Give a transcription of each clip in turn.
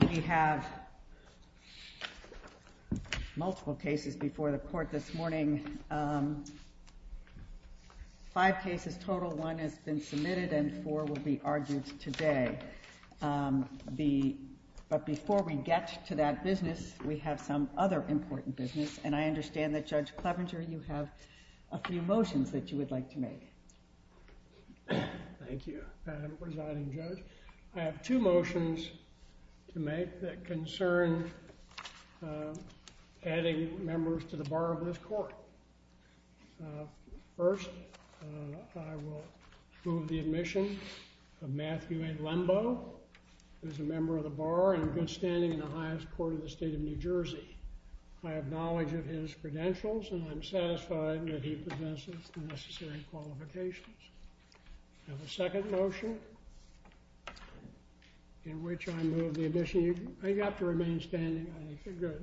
We have multiple cases before the court this morning, five cases total. One has been submitted and four will be argued today. But before we get to that business, we have some other important business, and I understand that Judge Clevenger, you have a few motions that you would like to make. Thank you, Madam presiding judge. I have two motions to make that concern adding members to the bar of this court. First, I will move the admission of Matthew A. Lembo, who is a member of the bar and good standing in the highest court of the state of New Jersey. I have knowledge of his credentials and I'm satisfied that he possesses the necessary qualifications. I have a second motion, in which I move the admission, you have to remain standing.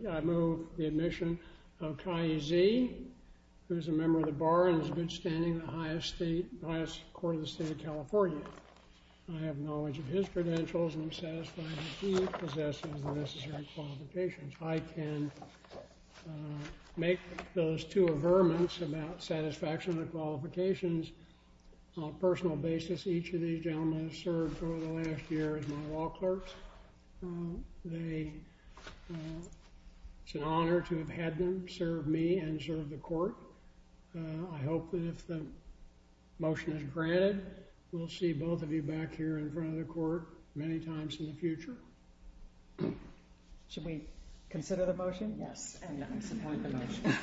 I move the admission of Kai Z, who is a member of the bar and is good standing in the highest court of the state of California. I have knowledge of his credentials and I'm satisfied that he possesses the necessary qualifications. I can make those two averments about satisfaction of qualifications on a personal basis. Each of these gentlemen has served over the last year as my law clerk. It's an honor to have had them serve me and serve the court. I hope that if the motion is granted, we'll see both of you back here in front of the court many times in the future. Should we consider the motion? Yes, and I support the motion.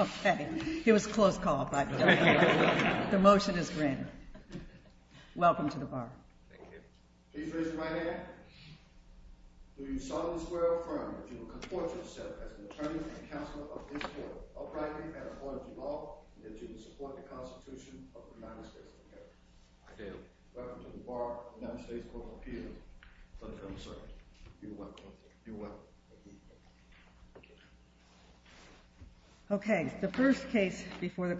Okay. It was a close call, but the motion is granted. Welcome to the bar. Thank you. Please raise your right hand. Do you solemnly swear or affirm that you will comport yourself as an attorney and counselor of this court, uprightly and according to law, and that you will support the Constitution of the United States of America? I do. Welcome to the bar of the United States Court of Appeals. Thank you, Mr. Attorney. You're welcome. You're welcome. Thank you. It is an appeal from the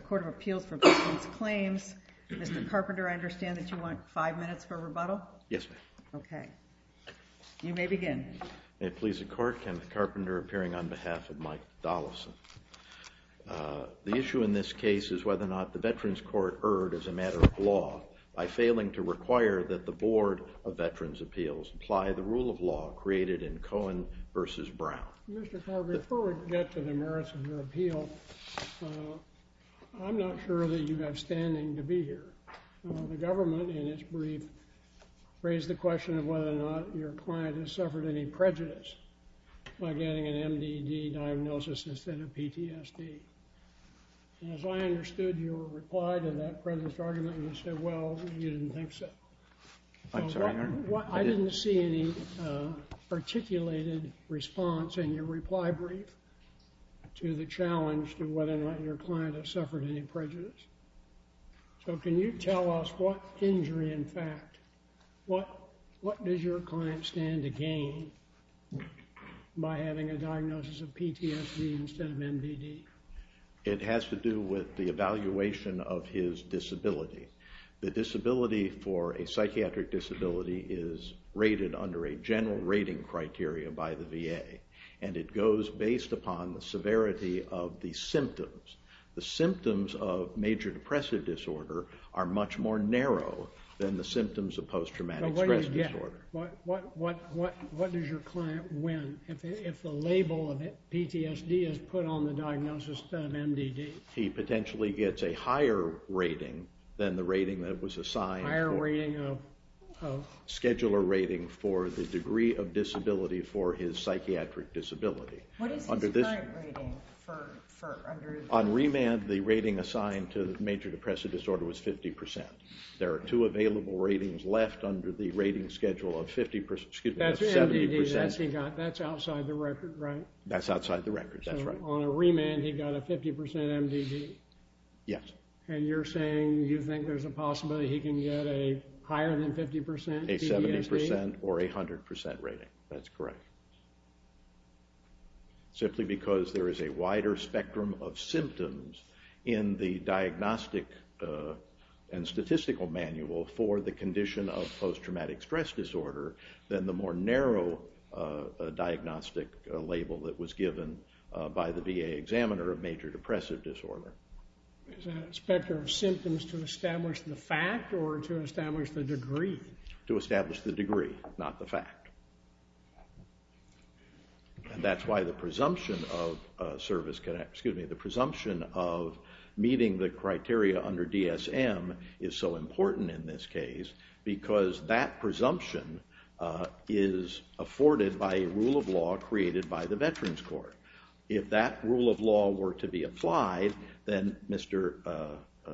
Court of Appeals for Veterans' Claims. Mr. Carpenter, I understand that you want five minutes for rebuttal? Yes, ma'am. Okay. You may begin. May it please the Court, Kenneth Carpenter appearing on behalf of Mike Dollison. The issue in this case is whether or not the Veterans Court erred as a matter of law by failing to require that the Board of Veterans' Appeals apply the rule of law created in Cohen v. Brown. Mr. Carpenter, before we get to the merits of your appeal, I'm not sure that you have standing to be here. The government, in its brief, raised the question of whether or not your client has suffered any prejudice by getting an MDD diagnosis instead of PTSD. And as I understood your reply to that President's argument, you said, well, you didn't think so. I didn't see any articulated response in your reply brief to the challenge to whether or not your client has suffered any prejudice. So can you tell us what injury, in fact, what does your client stand to gain by having a diagnosis of PTSD instead of MDD? It has to do with the evaluation of his disability. The disability for a psychiatric disability is rated under a general rating criteria by the VA, and it goes based upon the severity of the symptoms. The symptoms of major depressive disorder are much more narrow than the symptoms of post-traumatic stress disorder. But what do you get? What does your client win if the label of PTSD is put on the diagnosis instead of MDD? He potentially gets a higher rating than the rating that was assigned for the scheduler rating for the degree of disability for his psychiatric disability. What is his current rating? On remand, the rating assigned to the major depressive disorder was 50%. There are two available ratings left under the rating schedule of 50%, excuse me, 70%. That's MDD, that's outside the record, right? That's outside the record, that's right. So on a remand, he got a 50% MDD? Yes. And you're saying you think there's a possibility he can get a higher than 50% PTSD? A 70% or a 100% rating, that's correct. Simply because there is a wider spectrum of symptoms in the diagnostic and statistical manual for the condition of post-traumatic stress disorder than the more narrow diagnostic label that was given by the VA examiner of major depressive disorder. Is that a spectrum of symptoms to establish the fact or to establish the degree? To establish the degree, not the fact. And that's why the presumption of meeting the criteria under DSM is so important in this case because that presumption is afforded by a rule of law created by the Veterans Court. If that rule of law were to be applied, then Mr.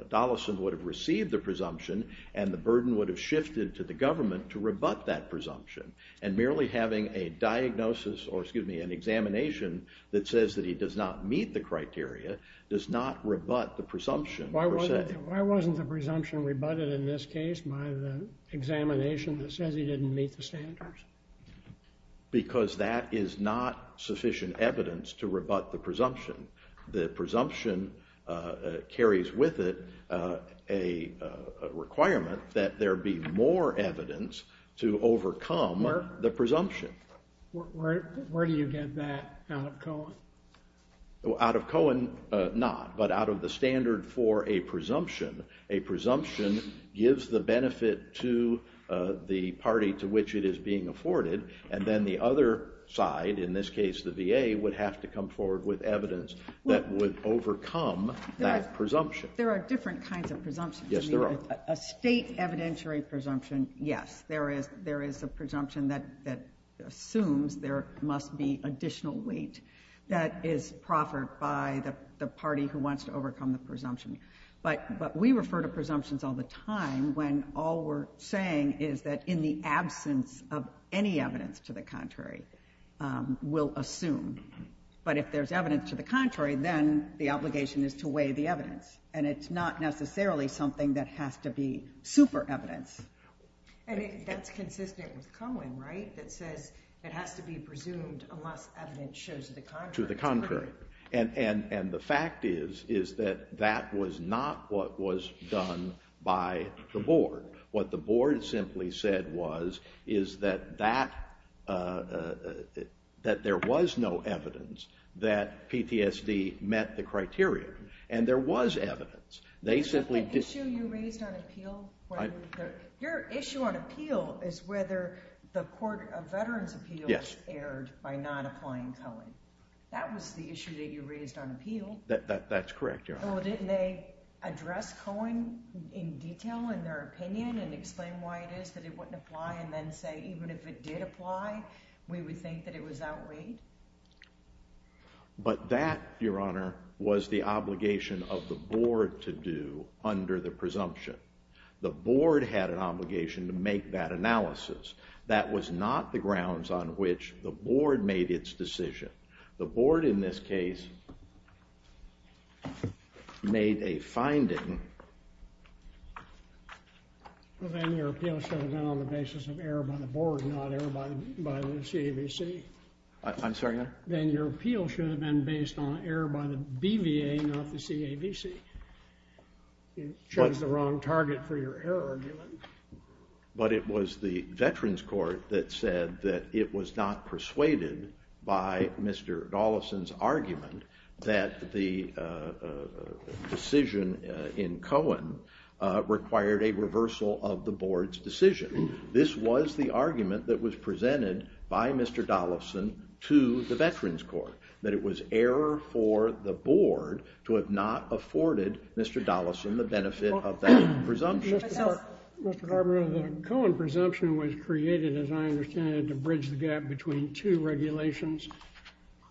Dollison would have received the presumption and the burden would have shifted to the government to rebut that presumption. And merely having a diagnosis, or excuse me, an examination that says that he does not meet the criteria does not rebut the presumption per se. Why wasn't the presumption rebutted in this case by the examination that says he didn't meet the standards? Because that is not sufficient evidence to rebut the presumption. The presumption carries with it a requirement that there be more evidence to overcome the presumption. Where do you get that out of Cohen? Out of Cohen, not, but out of the standard for a presumption. A presumption gives the benefit to the party to which it is being afforded, and then the other side, in this case the VA, would have to come forward with evidence that would overcome that presumption. There are different kinds of presumptions. A state evidentiary presumption, yes, there is a presumption that assumes there must be additional weight that is proffered by the party who wants to overcome the presumption. But we refer to presumptions all the time when all we're saying is that in the absence of any evidence to the contrary, we'll assume. But if there's evidence to the contrary, then the obligation is to weigh the evidence. And it's not necessarily something that has to be super evidence. And that's consistent with Cohen, right, that says it has to be presumed unless evidence shows to the contrary. To the contrary. And the fact is that that was not what was done by the board. What the board simply said was that there was no evidence that PTSD met the criteria. And there was evidence. Is that the issue you raised on appeal? Your issue on appeal is whether the Court of Veterans Appeals erred by not applying Cohen. That was the issue that you raised on appeal. That's correct, Your Honor. Well, didn't they address Cohen in detail in their opinion and explain why it is that it wouldn't apply and then say even if it did apply, we would think that it was outweighed? But that, Your Honor, was the obligation of the board to do under the presumption. The board had an obligation to make that analysis. That was not the grounds on which the board made its decision. The board, in this case, made a finding. Well, then your appeal should have been on the basis of error by the board, not error by the CAVC. I'm sorry, Your Honor? Then your appeal should have been based on error by the BVA, not the CAVC. You chose the wrong target for your error argument. But it was the Veterans Court that said that it was not persuaded by Mr. Dollison's argument that the decision in Cohen required a reversal of the board's decision. This was the argument that was presented by Mr. Dollison to the Veterans Court, that it was error for the board to have not afforded Mr. Dollison the benefit of that presumption. Mr. Garber, the Cohen presumption was created, as I understand it, to bridge the gap between two regulations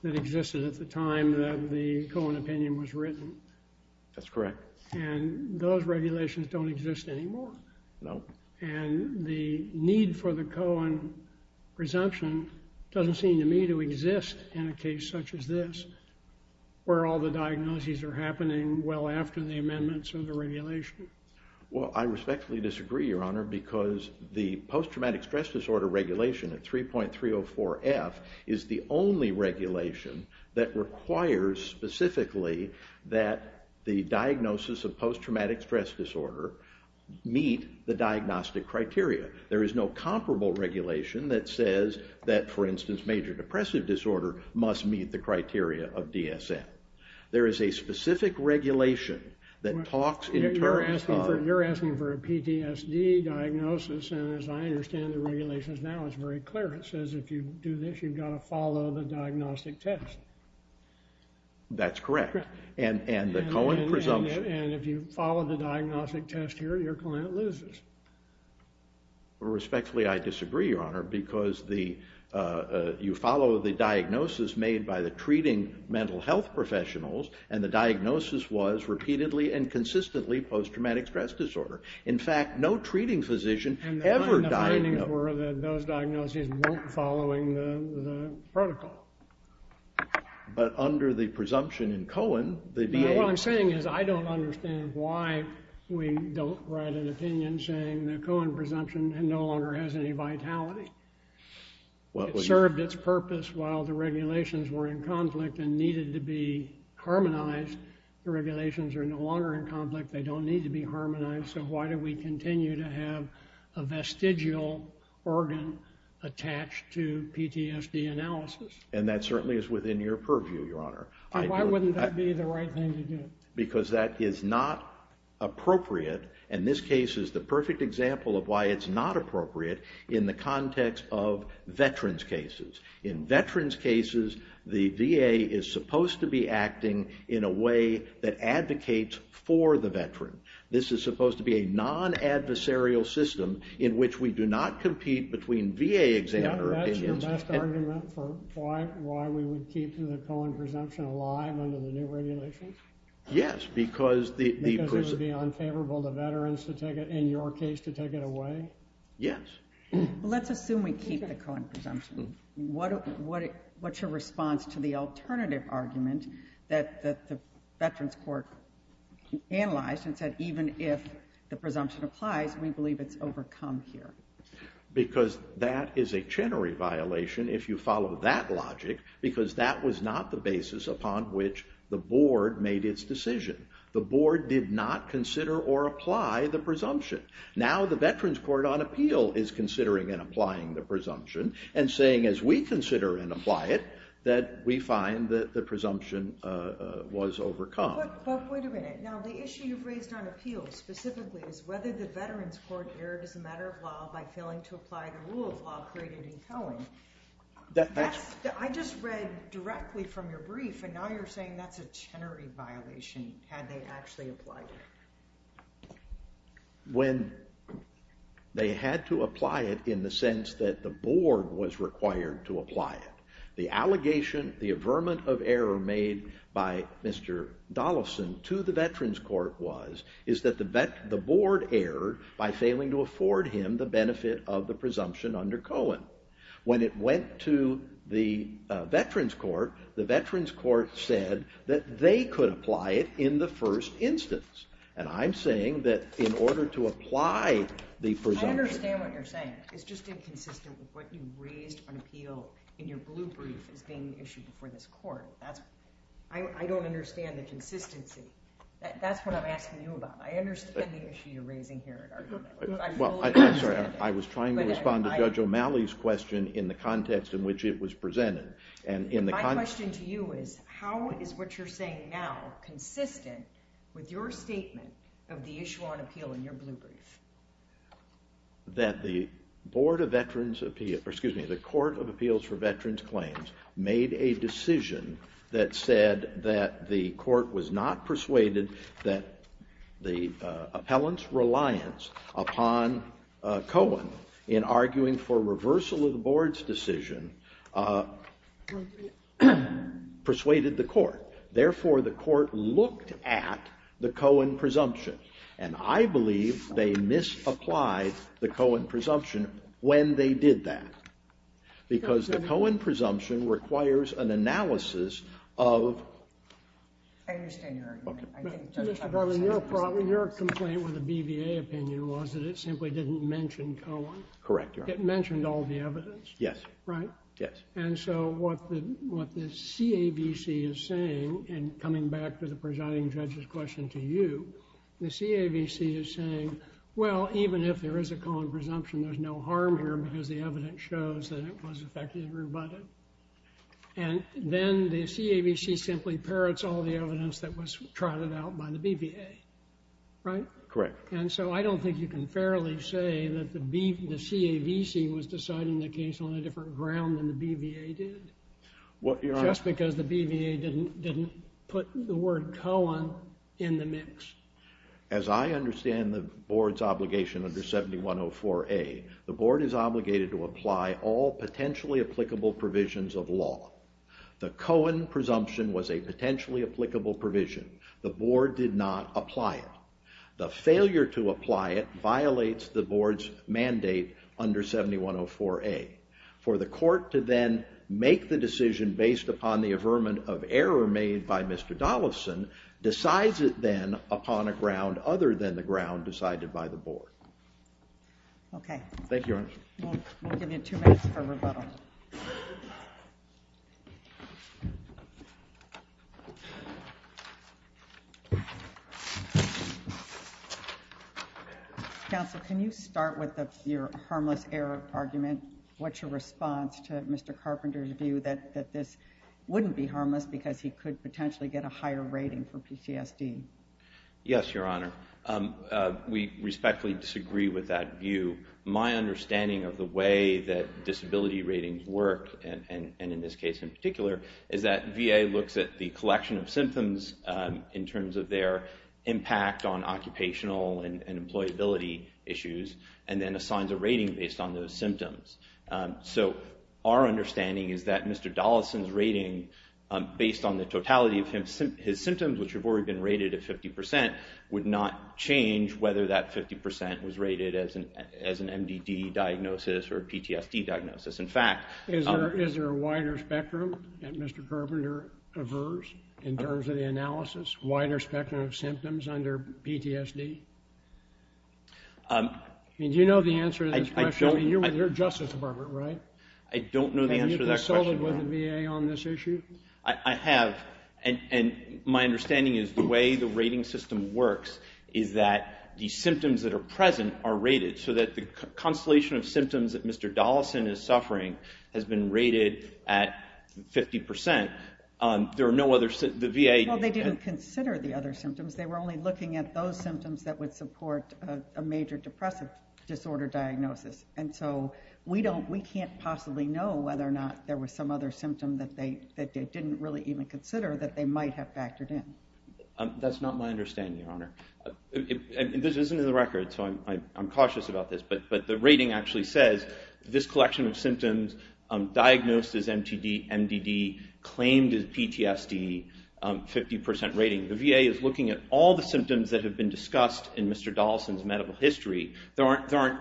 that existed at the time that the Cohen opinion was written. That's correct. And those regulations don't exist anymore. No. And the need for the Cohen presumption doesn't seem to me to exist in a case such as this, where all the diagnoses are happening well after the amendments of the regulation. Well, I respectfully disagree, Your Honor, because the post-traumatic stress disorder regulation at 3.304F is the only regulation that requires specifically that the diagnosis of post-traumatic stress disorder meet the diagnostic criteria. There is no comparable regulation that says that, for instance, major depressive disorder must meet the criteria of DSM. There is a specific regulation that talks in terms of... You're asking for a PTSD diagnosis. And as I understand the regulations now, it's very clear. It says if you do this, you've got to follow the diagnostic test. That's correct. And the Cohen presumption... And if you follow the diagnostic test here, your client loses. Respectfully, I disagree, Your Honor, because you follow the diagnosis made by the treating mental health professionals, and the diagnosis was repeatedly and consistently post-traumatic stress disorder. In fact, no treating physician ever diagnosed... And the findings were that those diagnoses weren't following the protocol. But under the presumption in Cohen, the DA... What I'm saying is I don't understand why we don't write an opinion saying that Cohen presumption no longer has any vitality. It served its purpose while the regulations were in conflict and needed to be harmonized. The regulations are no longer in conflict. They don't need to be harmonized, so why do we continue to have a vestigial organ attached to PTSD analysis? And that certainly is within your purview, Your Honor. Why wouldn't that be the right thing to do? Because that is not appropriate. And this case is the perfect example of why it's not appropriate in the context of veterans' cases. In veterans' cases, the VA is supposed to be acting in a way that advocates for the veteran. This is supposed to be a non-adversarial system in which we do not compete between VA examiners... That's your best argument for why we would keep the Cohen presumption alive under the new regulations? Yes, because the... Because it would be unfavorable to veterans to take it, in your case, to take it away? Yes. Let's assume we keep the Cohen presumption. What's your response to the alternative argument that the Veterans Court analyzed and said, even if the presumption applies, we believe it's overcome here? Because that is a Chenery violation if you follow that logic, because that was not the basis upon which the board made its decision. The board did not consider or apply the presumption. Now the Veterans Court, on appeal, is considering and applying the presumption and saying, as we consider and apply it, that we find that the presumption was overcome. But wait a minute. Now the issue you've raised on appeal, specifically, is whether the Veterans Court erred as a matter of law by failing to apply the rule of law created in Cohen. I just read directly from your brief, and now you're saying that's a Chenery violation, had they actually applied it. When they had to apply it in the sense that the board was required to apply it. The allegation, the averment of error made by Mr. Dollison to the Veterans Court was, is that the board erred by failing to afford him the benefit of the presumption under Cohen. When it went to the Veterans Court, the Veterans Court said that they could apply it in the first instance. And I'm saying that in order to apply the presumption. I understand what you're saying. It's just inconsistent with what you raised on appeal in your blue brief as being issued before this court. I don't understand the consistency. That's what I'm asking you about. I understand the issue you're raising here. I'm sorry, I was trying to respond to Judge O'Malley's question in the context in which it was presented. My question to you is, how is what you're saying now consistent with your statement of the issue on appeal in your blue brief? That the Court of Appeals for Veterans Claims made a decision that said that the court was not persuaded that the appellant's reliance upon Cohen in arguing for reversal of the board's decision persuaded the court. Therefore, the court looked at the Cohen presumption. And I believe they misapplied the Cohen presumption when they did that. Because the Cohen presumption requires an analysis of... I understand your argument. Your complaint with the BVA opinion was that it simply didn't mention Cohen. Correct, Your Honor. It mentioned all the evidence. Yes. Right? Yes. And so what the CAVC is saying, and coming back to the presiding judge's question to you, the CAVC is saying, well, even if there is a Cohen presumption, there's no harm here because the evidence shows that it was effectively rebutted. And then the CAVC simply parrots all the evidence that was trotted out by the BVA. Right? Correct. And so I don't think you can fairly say that the CAVC was deciding the case on a different ground than the BVA did. Just because the BVA didn't put the word Cohen in the mix. As I understand the board's obligation under 7104A, the board is obligated to apply all potentially applicable provisions of law. The Cohen presumption was a potentially applicable provision. The board did not apply it. The failure to apply it violates the board's mandate under 7104A. For the court to then make the decision based upon the averment of error made by Mr. Dollison decides it then upon a ground Okay. Thank you, Your Honor. We'll give you two minutes for rebuttal. Counsel, can you start with your harmless error argument? What's your response to Mr. Carpenter's view that this wouldn't be harmless because he could potentially get a higher rating for PCSD? Yes, Your Honor. We respectfully disagree with that view. My understanding of the way that disability ratings work, and in this case in particular, is that VA looks at the collection of symptoms in terms of their impact on occupational and employability issues and then assigns a rating based on those symptoms. Our understanding is that Mr. Dollison's rating, based on the totality of his symptoms, which have already been rated at 50%, would not change whether that 50% was rated as an MDD diagnosis or a PTSD diagnosis. In fact... Is there a wider spectrum that Mr. Carpenter avers in terms of the analysis? A wider spectrum of symptoms under PTSD? Do you know the answer to this question? You're with the Justice Department, right? I don't know the answer to that question, Your Honor. Have you consulted with the VA on this issue? I have. And my understanding is the way the rating system works is that the symptoms that are present are rated so that the constellation of symptoms that Mr. Dollison is suffering has been rated at 50%. There are no other symptoms... Well, they didn't consider the other symptoms. They were only looking at those symptoms that would support a major depressive disorder diagnosis. And so we can't possibly know whether or not there was some other symptom that they didn't really even consider that they might have factored in. That's not my understanding, Your Honor. This isn't in the record, so I'm cautious about this. But the rating actually says this collection of symptoms diagnosed as MDD claimed a PTSD 50% rating. The VA is looking at all the symptoms that have been discussed in Mr. Dollison's medical history. There aren't...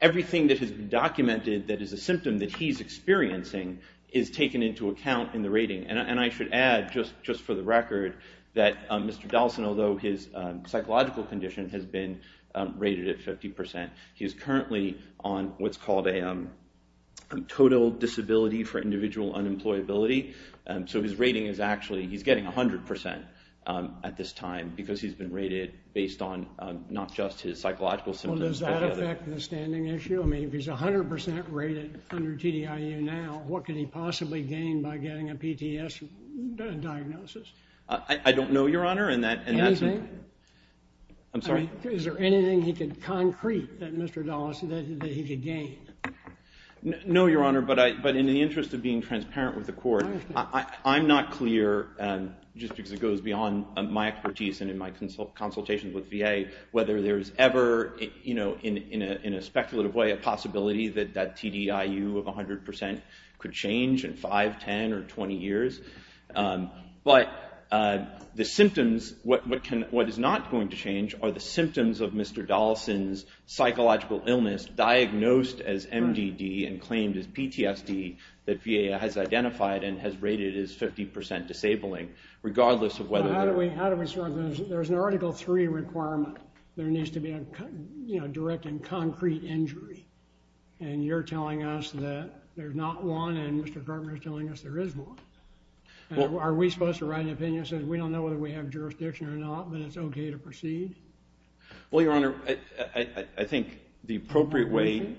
Everything that has been documented that is a symptom that he's experiencing is taken into account in the rating. And I should add, just for the record, that Mr. Dollison, although his psychological condition has been rated at 50%, he is currently on what's called a total disability for individual unemployability. So his rating is actually... He's getting 100% at this time because he's been rated based on not just his psychological symptoms... Well, does that affect the standing issue? I mean, if he's 100% rated under TDIU now, what could he possibly gain by getting a PTSD diagnosis? I don't know, Your Honor, and that's... Anything? I'm sorry? Is there anything he could concrete that Mr. Dollison, that he could gain? No, Your Honor, but in the interest of being transparent with the court, I'm not clear, just because it goes beyond my expertise and in my consultations with VA, whether there's ever, you know, in a speculative way, a possibility that that TDIU of 100% could change in 5, 10, or 20 years. But the symptoms... What is not going to change are the symptoms of Mr. Dollison's psychological illness diagnosed as MDD and claimed as PTSD that VA has identified and has rated as 50% disabling, regardless of whether... How do we... There's an Article III requirement. There needs to be a direct and concrete injury. And you're telling us that there's not one, and Mr. Cartman is telling us there is one. Are we supposed to write an opinion that says we don't know whether we have jurisdiction or not, but it's okay to proceed? Well, Your Honor, I think the appropriate way... The appropriate way?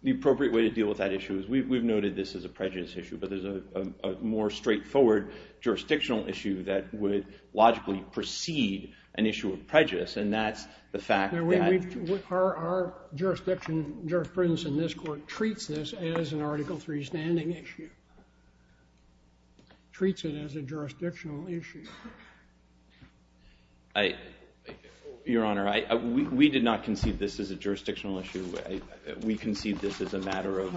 The appropriate way to deal with that issue is... We've noted this as a prejudice issue, but there's a more straightforward jurisdictional issue that would logically precede an issue of prejudice, and that's the fact that... Our jurisprudence in this court treats this as an Article III standing issue. Treats it as a jurisdictional issue. Your Honor, we did not conceive this as a jurisdictional issue. We conceived this as a matter of...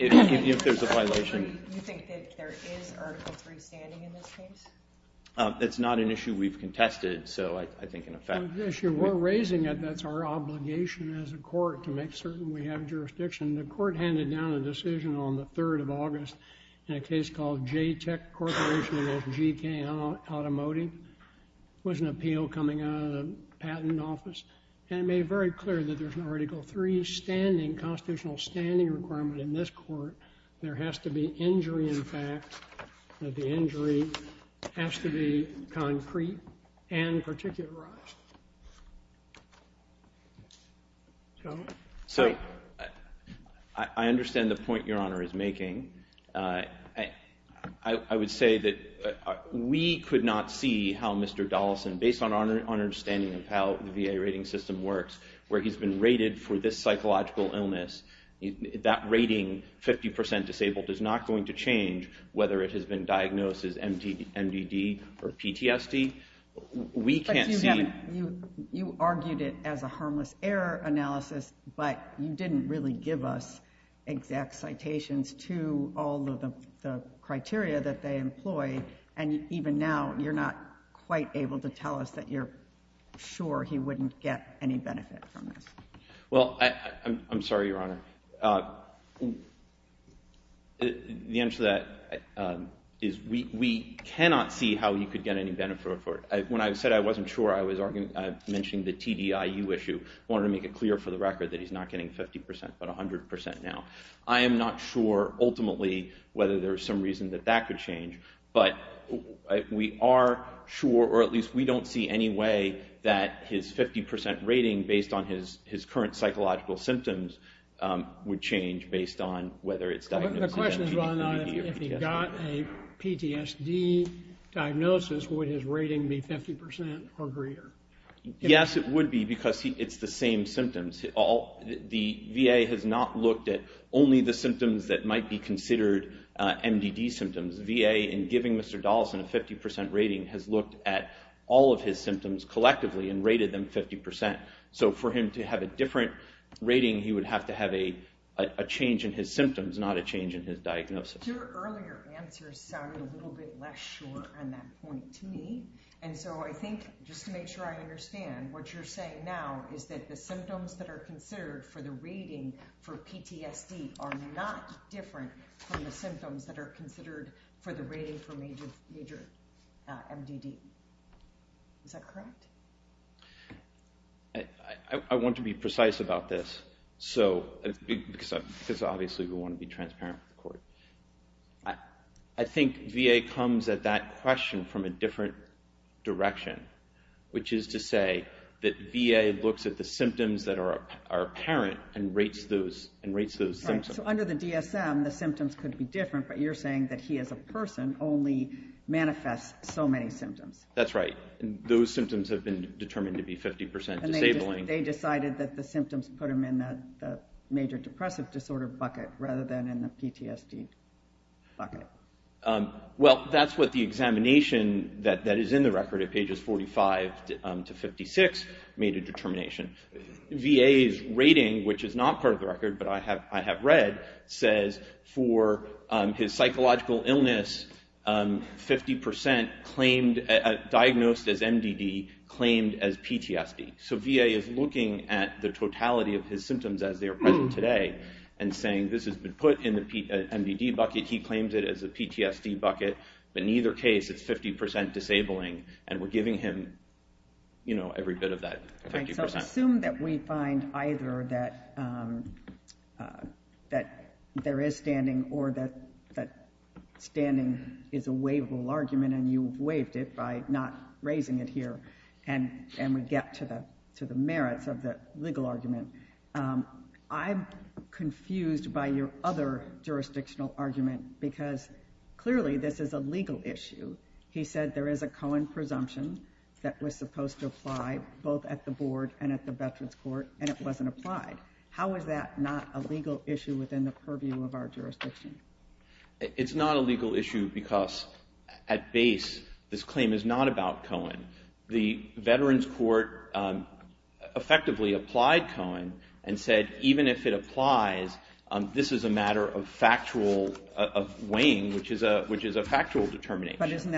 If there's a violation... You think that there is Article III standing in this case? It's not an issue we've contested, so I think, in effect... We're raising it. That's our obligation as a court to make certain we have jurisdiction. The court handed down a decision on the 3rd of August in a case called JTEC Corporation v. GK Automotive. It was an appeal coming out of the Patent Office, and it made very clear that there's an Article III standing, constitutional standing requirement in this court. There has to be injury in fact. The injury has to be concrete and particularized. So... I understand the point Your Honor is making. I would say that we could not see how Mr. Dollison, based on our understanding of how the VA rating system works, where he's been rated for this psychological illness, that rating, 50% disabled, is not going to change whether it has been diagnosed as MDD or PTSD. We can't see... But you argued it as a harmless error analysis, but you didn't really give us exact citations to all of the criteria that they employ, and even now you're not quite able to tell us that you're sure he wouldn't get any benefit from this. Well, I'm sorry, Your Honor. The answer to that is we cannot see how he could get any benefit for it. When I said I wasn't sure, I was mentioning the TDIU issue. I wanted to make it clear for the record that he's not getting 50%, but 100% now. I am not sure, ultimately, whether there's some reason that that could change, but we are sure, or at least we don't see any way, that his 50% rating, based on his current psychological symptoms, would change based on whether it's diagnosed as MDD or PTSD. The question is whether or not if he got a PTSD diagnosis, would his rating be 50% or greater? Yes, it would be, because it's the same symptoms. The VA has not looked at only the symptoms that might be considered MDD symptoms. VA, in giving Mr. Dollison a 50% rating, has looked at all of his symptoms collectively and rated them 50%. For him to have a different rating, he would have to have a change in his symptoms, not a change in his diagnosis. Your earlier answer sounded a little bit less sure on that point to me. I think, just to make sure I understand, what you're saying now is that the symptoms that are considered for the rating for PTSD are not different from the symptoms that are considered for the rating for major MDD. Is that correct? I want to be precise about this, because obviously we want to be transparent with the court. I think VA comes at that question from a different direction, which is to say that VA looks at the symptoms that are apparent and rates those symptoms. Under the DSM, the symptoms could be different, but you're saying that he, as a person, only manifests so many symptoms. That's right. Those symptoms have been determined to be 50% disabling. They decided that the symptoms put him in the major depressive disorder bucket rather than in the PTSD bucket. Well, that's what the examination that is in the record at pages 45 to 56 made a determination. VA's rating, which is not part of the record but I have read, says for his psychological illness, 50% diagnosed as MDD claimed as PTSD. So VA is looking at the totality of his symptoms as they are present today and saying, this has been put in the MDD bucket, he claims it as a PTSD bucket, but in either case it's 50% disabling and we're giving him every bit of that 50%. So assume that we find either that there is standing or that standing is a waivable argument and you've waived it by not raising it here and we get to the merits of the legal argument. I'm confused by your other jurisdictional argument because clearly this is a legal issue. He said there is a Cohen presumption that was supposed to apply both at the board and at the Veterans Court and it wasn't applied. How is that not a legal issue within the purview of our jurisdiction? It's not a legal issue because at base this claim is not about Cohen. The Veterans Court effectively applied Cohen and said even if it applies, this is a matter of factual weighing, which is a factual determination. But isn't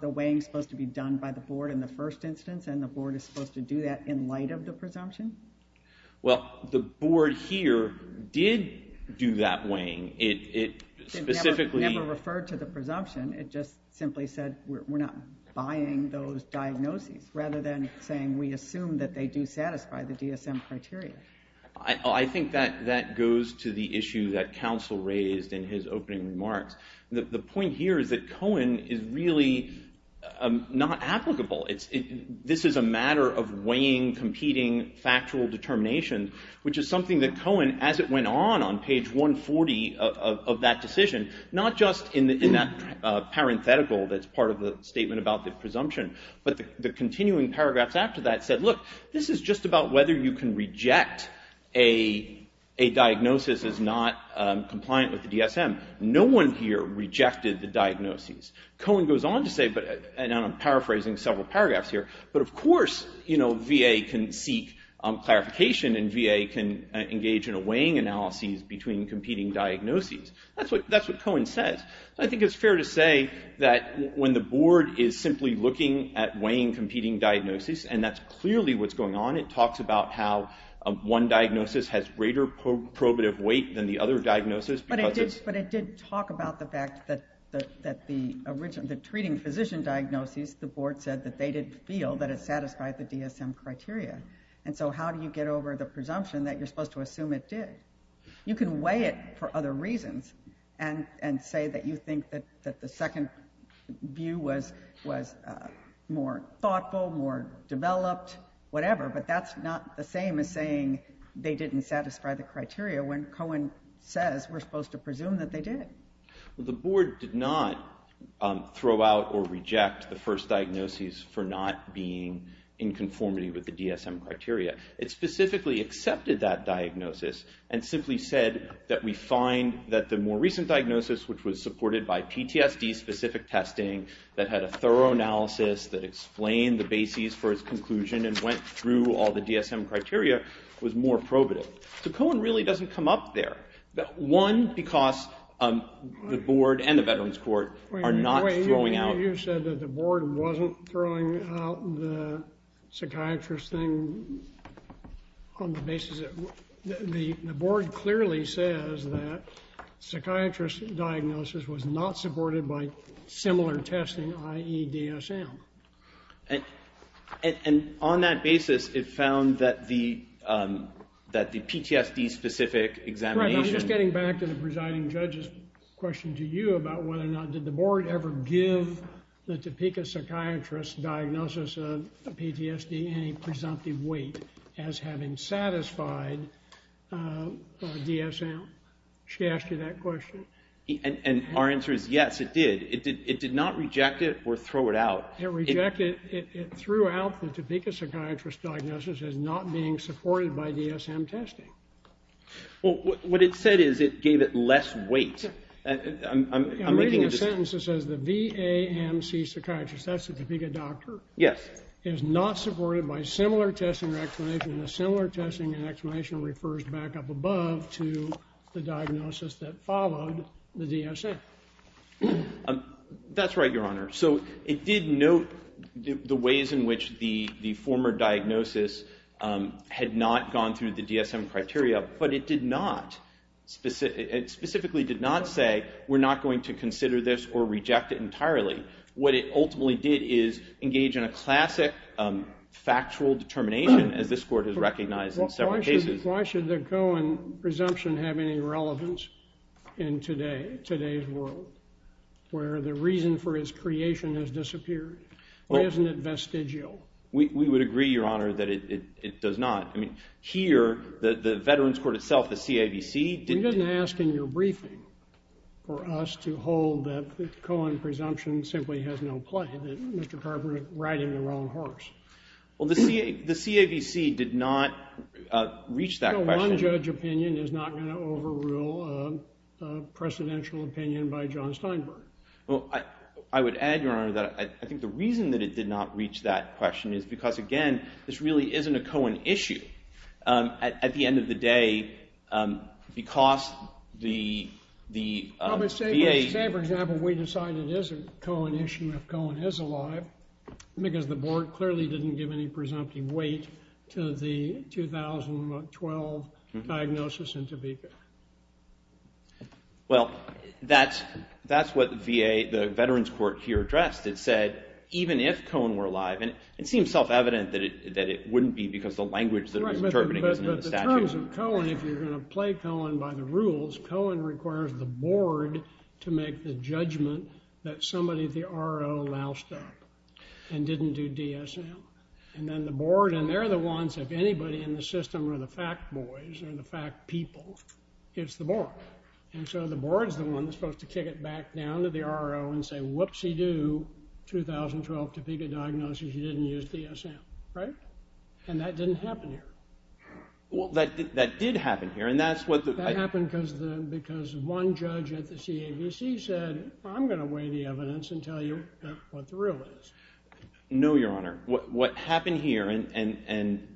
the weighing supposed to be done by the board in the first instance and the board is supposed to do that in light of the presumption? Well, the board here did do that weighing. It specifically... It never referred to the presumption. It just simply said we're not buying those diagnoses rather than saying we assume that they do satisfy the DSM criteria. I think that goes to the issue that counsel raised in his opening remarks. The point here is that Cohen is really not applicable. This is a matter of weighing, competing, factual determination, which is something that Cohen, as it went on on page 140 of that decision, not just in that parenthetical that's part of the statement about the presumption, but the continuing paragraphs after that said, look, this is just about whether you can reject a diagnosis as not compliant with the DSM. No one here rejected the diagnoses. Cohen goes on to say, and I'm paraphrasing several paragraphs here, but of course VA can seek clarification and VA can engage in a weighing analysis between competing diagnoses. That's what Cohen says. I think it's fair to say that when the board is simply looking at weighing competing diagnoses, and that's clearly what's going on. It talks about how one diagnosis has greater probative weight than the other diagnosis. But it did talk about the fact that the treating physician diagnoses, the board said that they didn't feel that it satisfied the DSM criteria. And so how do you get over the presumption that you're supposed to assume it did? You can weigh it for other reasons and say that you think that the second view was more thoughtful, more developed, whatever, but that's not the same as saying they didn't satisfy the criteria when Cohen says we're supposed to presume that they did. The board did not throw out or reject the first diagnosis for not being in conformity with the DSM criteria. It specifically accepted that diagnosis and simply said that we find that the more recent diagnosis, which was supported by PTSD-specific testing, that had a thorough analysis, that explained the bases for its conclusion and went through all the DSM criteria, was more probative. So Cohen really doesn't come up there. One, because the board and the Veterans Court are not throwing out... You said that the board wasn't throwing out the psychiatrist thing on the basis that... The board clearly says that psychiatrist diagnosis was not supported by similar testing, i.e. DSM. And on that basis, it found that the PTSD-specific examination... I'm just getting back to the presiding judge's question to you about whether or not did the board ever give the Topeka psychiatrist diagnosis of PTSD any presumptive weight as having satisfied DSM. She asked you that question. And our answer is yes, it did. It did not reject it or throw it out. It rejected it. It threw out the Topeka psychiatrist diagnosis as not being supported by DSM testing. Well, what it said is it gave it less weight. I'm making a... I'm reading a sentence that says the VAMC psychiatrist, that's the Topeka doctor... Yes. ...is not supported by similar testing or explanation, and the similar testing and explanation refers back up above to the diagnosis that followed the DSM. That's right, Your Honor. So it did note the ways in which the former diagnosis had not gone through the DSM criteria, but it did not... it specifically did not say, we're not going to consider this or reject it entirely. What it ultimately did is engage in a classic, factual determination, as this court has recognized in several cases. Why should the Cohen presumption have any relevance in today's world, where the reason for its creation has disappeared? Why isn't it vestigial? We would agree, Your Honor, that it does not. Here, the Veterans Court itself, the CAVC... You didn't ask in your briefing for us to hold that the Cohen presumption simply has no play, that Mr. Carpenter is riding the wrong horse. Well, the CAVC did not reach that question. No one judge opinion is not going to overrule a precedential opinion by John Steinberg. Well, I would add, Your Honor, that I think the reason that it did not reach that question is because, again, this really isn't a Cohen issue. At the end of the day, because the VA... Say, for example, we decide it is a Cohen issue if Cohen is alive, because the board clearly didn't give any presumptive weight to the 2012 diagnosis in Topeka. Well, that's what the VA... the Veterans Court here addressed. It said, even if Cohen were alive... And it seems self-evident that it wouldn't be because the language that we're interpreting isn't in the statute. But the terms of Cohen, if you're going to play Cohen by the rules, Cohen requires the board to make the judgment that somebody, the RO, loused up and didn't do DSM. And then the board, and they're the ones, if anybody in the system are the fact boys or the fact people, it's the board. And so the board's the one that's supposed to kick it back down to the RO and say, whoopsie-doo, 2012 Topeka diagnosis, you didn't use DSM, right? And that didn't happen here. Well, that did happen here, and that's what... That happened because one judge at the CAVC said, I'm going to weigh the evidence and tell you what the real is. No, Your Honor. What happened here, and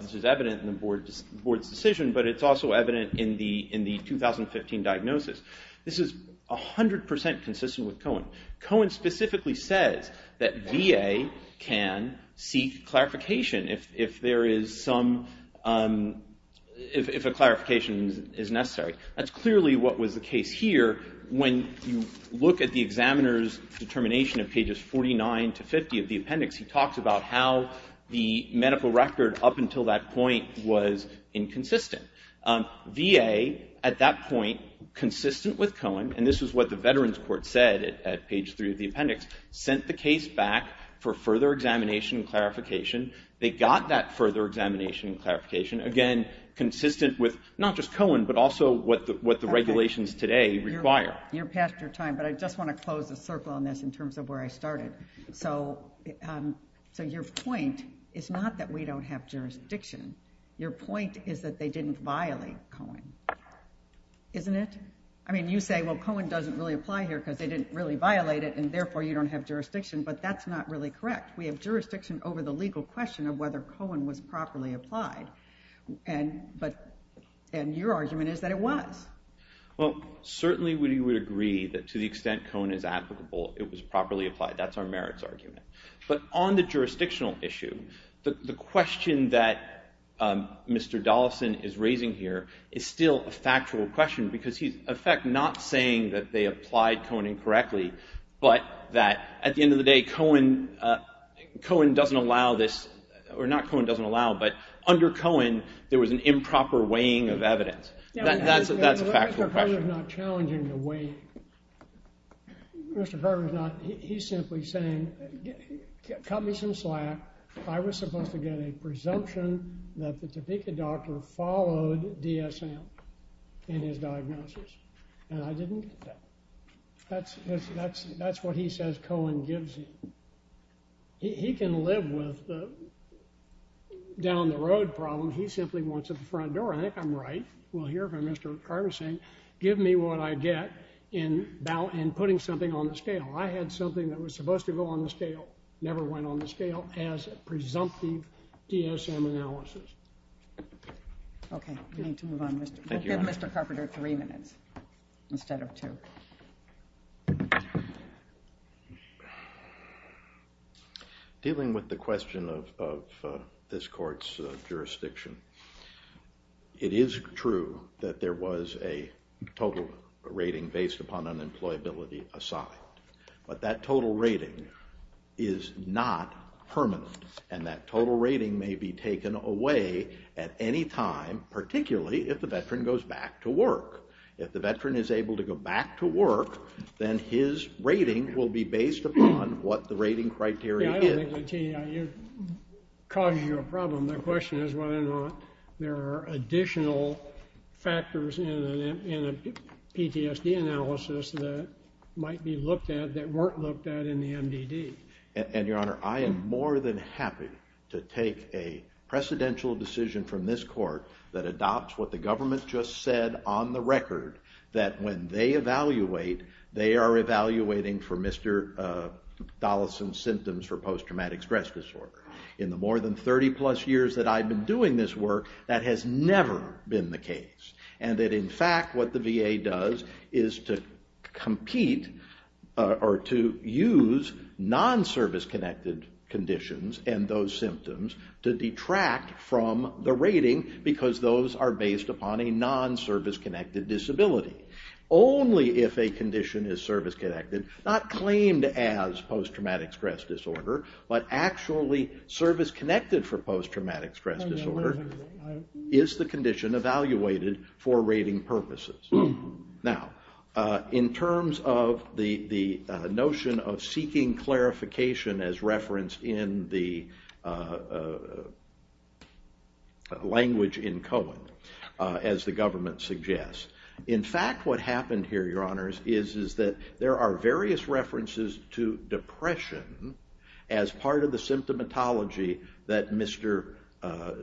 this is evident in the board's decision, but it's also evident in the 2015 diagnosis. This is 100% consistent with Cohen. Cohen specifically says that VA can seek clarification if there is some... if a clarification is necessary. That's clearly what was the case here When you look at the examiner's determination of pages 49 to 50 of the appendix, he talks about how the medical record up until that point was inconsistent. VA, at that point, consistent with Cohen, and this is what the Veterans Court said at page 3 of the appendix, sent the case back for further examination and clarification. They got that further examination and clarification, again, consistent with not just Cohen, but also what the regulations today require. You're past your time, but I just want to close the circle on this in terms of where I started. So your point is not that we don't have jurisdiction. Your point is that they didn't violate Cohen. Isn't it? I mean, you say, well, Cohen doesn't really apply here because they didn't really violate it, and therefore you don't have jurisdiction, but that's not really correct. We have jurisdiction over the legal question of whether Cohen was properly applied. And your argument is that it was. Well, certainly we would agree that to the extent Cohen is applicable, it was properly applied. That's our merits argument. But on the jurisdictional issue, the question that Mr. Dollison is raising here is still a factual question because he's, in effect, not saying that they applied Cohen incorrectly, but that at the end of the day, Cohen doesn't allow this or not Cohen doesn't allow, but under Cohen, there was an improper weighing of evidence. That's a factual question. Mr. Kerr is not challenging the weighing. Mr. Kerr is not. He's simply saying, cut me some slack. I was supposed to get a presumption that the Topeka doctor followed DSM in his diagnosis, and I didn't get that. That's what he says Cohen gives him. He can live with the down-the-road problem. He simply wants at the front door. I think I'm right. We'll hear from Mr. Kerr saying, give me what I get in putting something on the scale. I had something that was supposed to go on the scale, never went on the scale, as a presumptive DSM analysis. Okay, we need to move on. We'll give Mr. Carpenter three minutes instead of two. Dealing with the question of this court's jurisdiction, it is true that there was a total rating based upon unemployability assigned. But that total rating is not permanent, and that total rating may be taken away at any time, particularly if the veteran goes back to work. If the veteran is able to go back to work, then his rating will be based upon what the rating criteria is. Yeah, I don't think that causes you a problem. The question is whether or not there are additional factors in a PTSD analysis that might be looked at that weren't looked at in the MDD. And, Your Honor, I am more than happy to take a precedential decision from this court that adopts what the government just said on the record, that when they evaluate, they are evaluating for Mr. Dollison's symptoms for post-traumatic stress disorder. In the more than 30-plus years that I've been doing this work, that has never been the case. And that, in fact, what the VA does is to compete or to use non-service-connected conditions and those symptoms to detract from the rating because those are based upon a non-service-connected disability. Only if a condition is service-connected, not claimed as post-traumatic stress disorder, but actually service-connected for post-traumatic stress disorder, is the condition evaluated for rating purposes. Now, in terms of the notion of seeking clarification as referenced in the language in Cohen, as the government suggests, in fact what happened here, Your Honors, is that there are various references to depression as part of the symptomatology that Mr.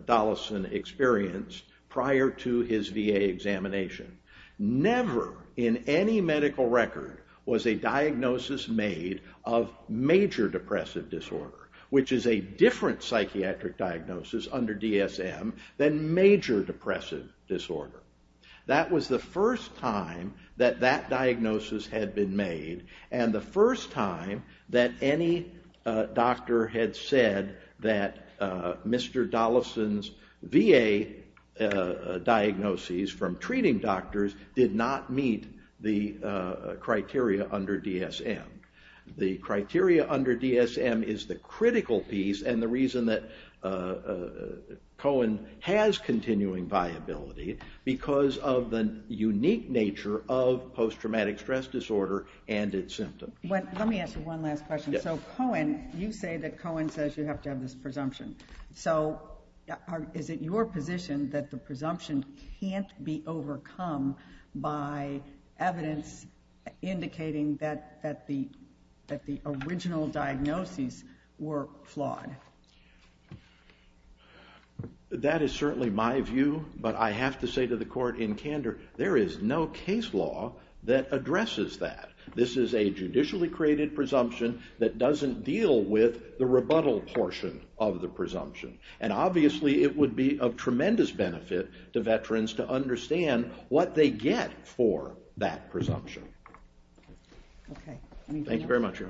Dollison experienced prior to his VA examination. Never in any medical record was a diagnosis made of major depressive disorder, which is a different psychiatric diagnosis under DSM than major depressive disorder. That was the first time that that diagnosis had been made and the first time that any doctor had said that Mr. Dollison's VA diagnoses from treating doctors did not meet the criteria under DSM. The criteria under DSM is the critical piece and the reason that Cohen has continuing viability because of the unique nature of post-traumatic stress disorder and its symptoms. Let me ask you one last question. So Cohen, you say that Cohen says you have to have this presumption. So is it your position that the presumption can't be overcome by evidence indicating that the original diagnoses were flawed? That is certainly my view, but I have to say to the Court in candor, there is no case law that addresses that. This is a judicially created presumption that doesn't deal with the rebuttal portion of the presumption. And obviously it would be of tremendous benefit to veterans to understand what they get for that presumption. Thank you very much, Your Honor. Thank you.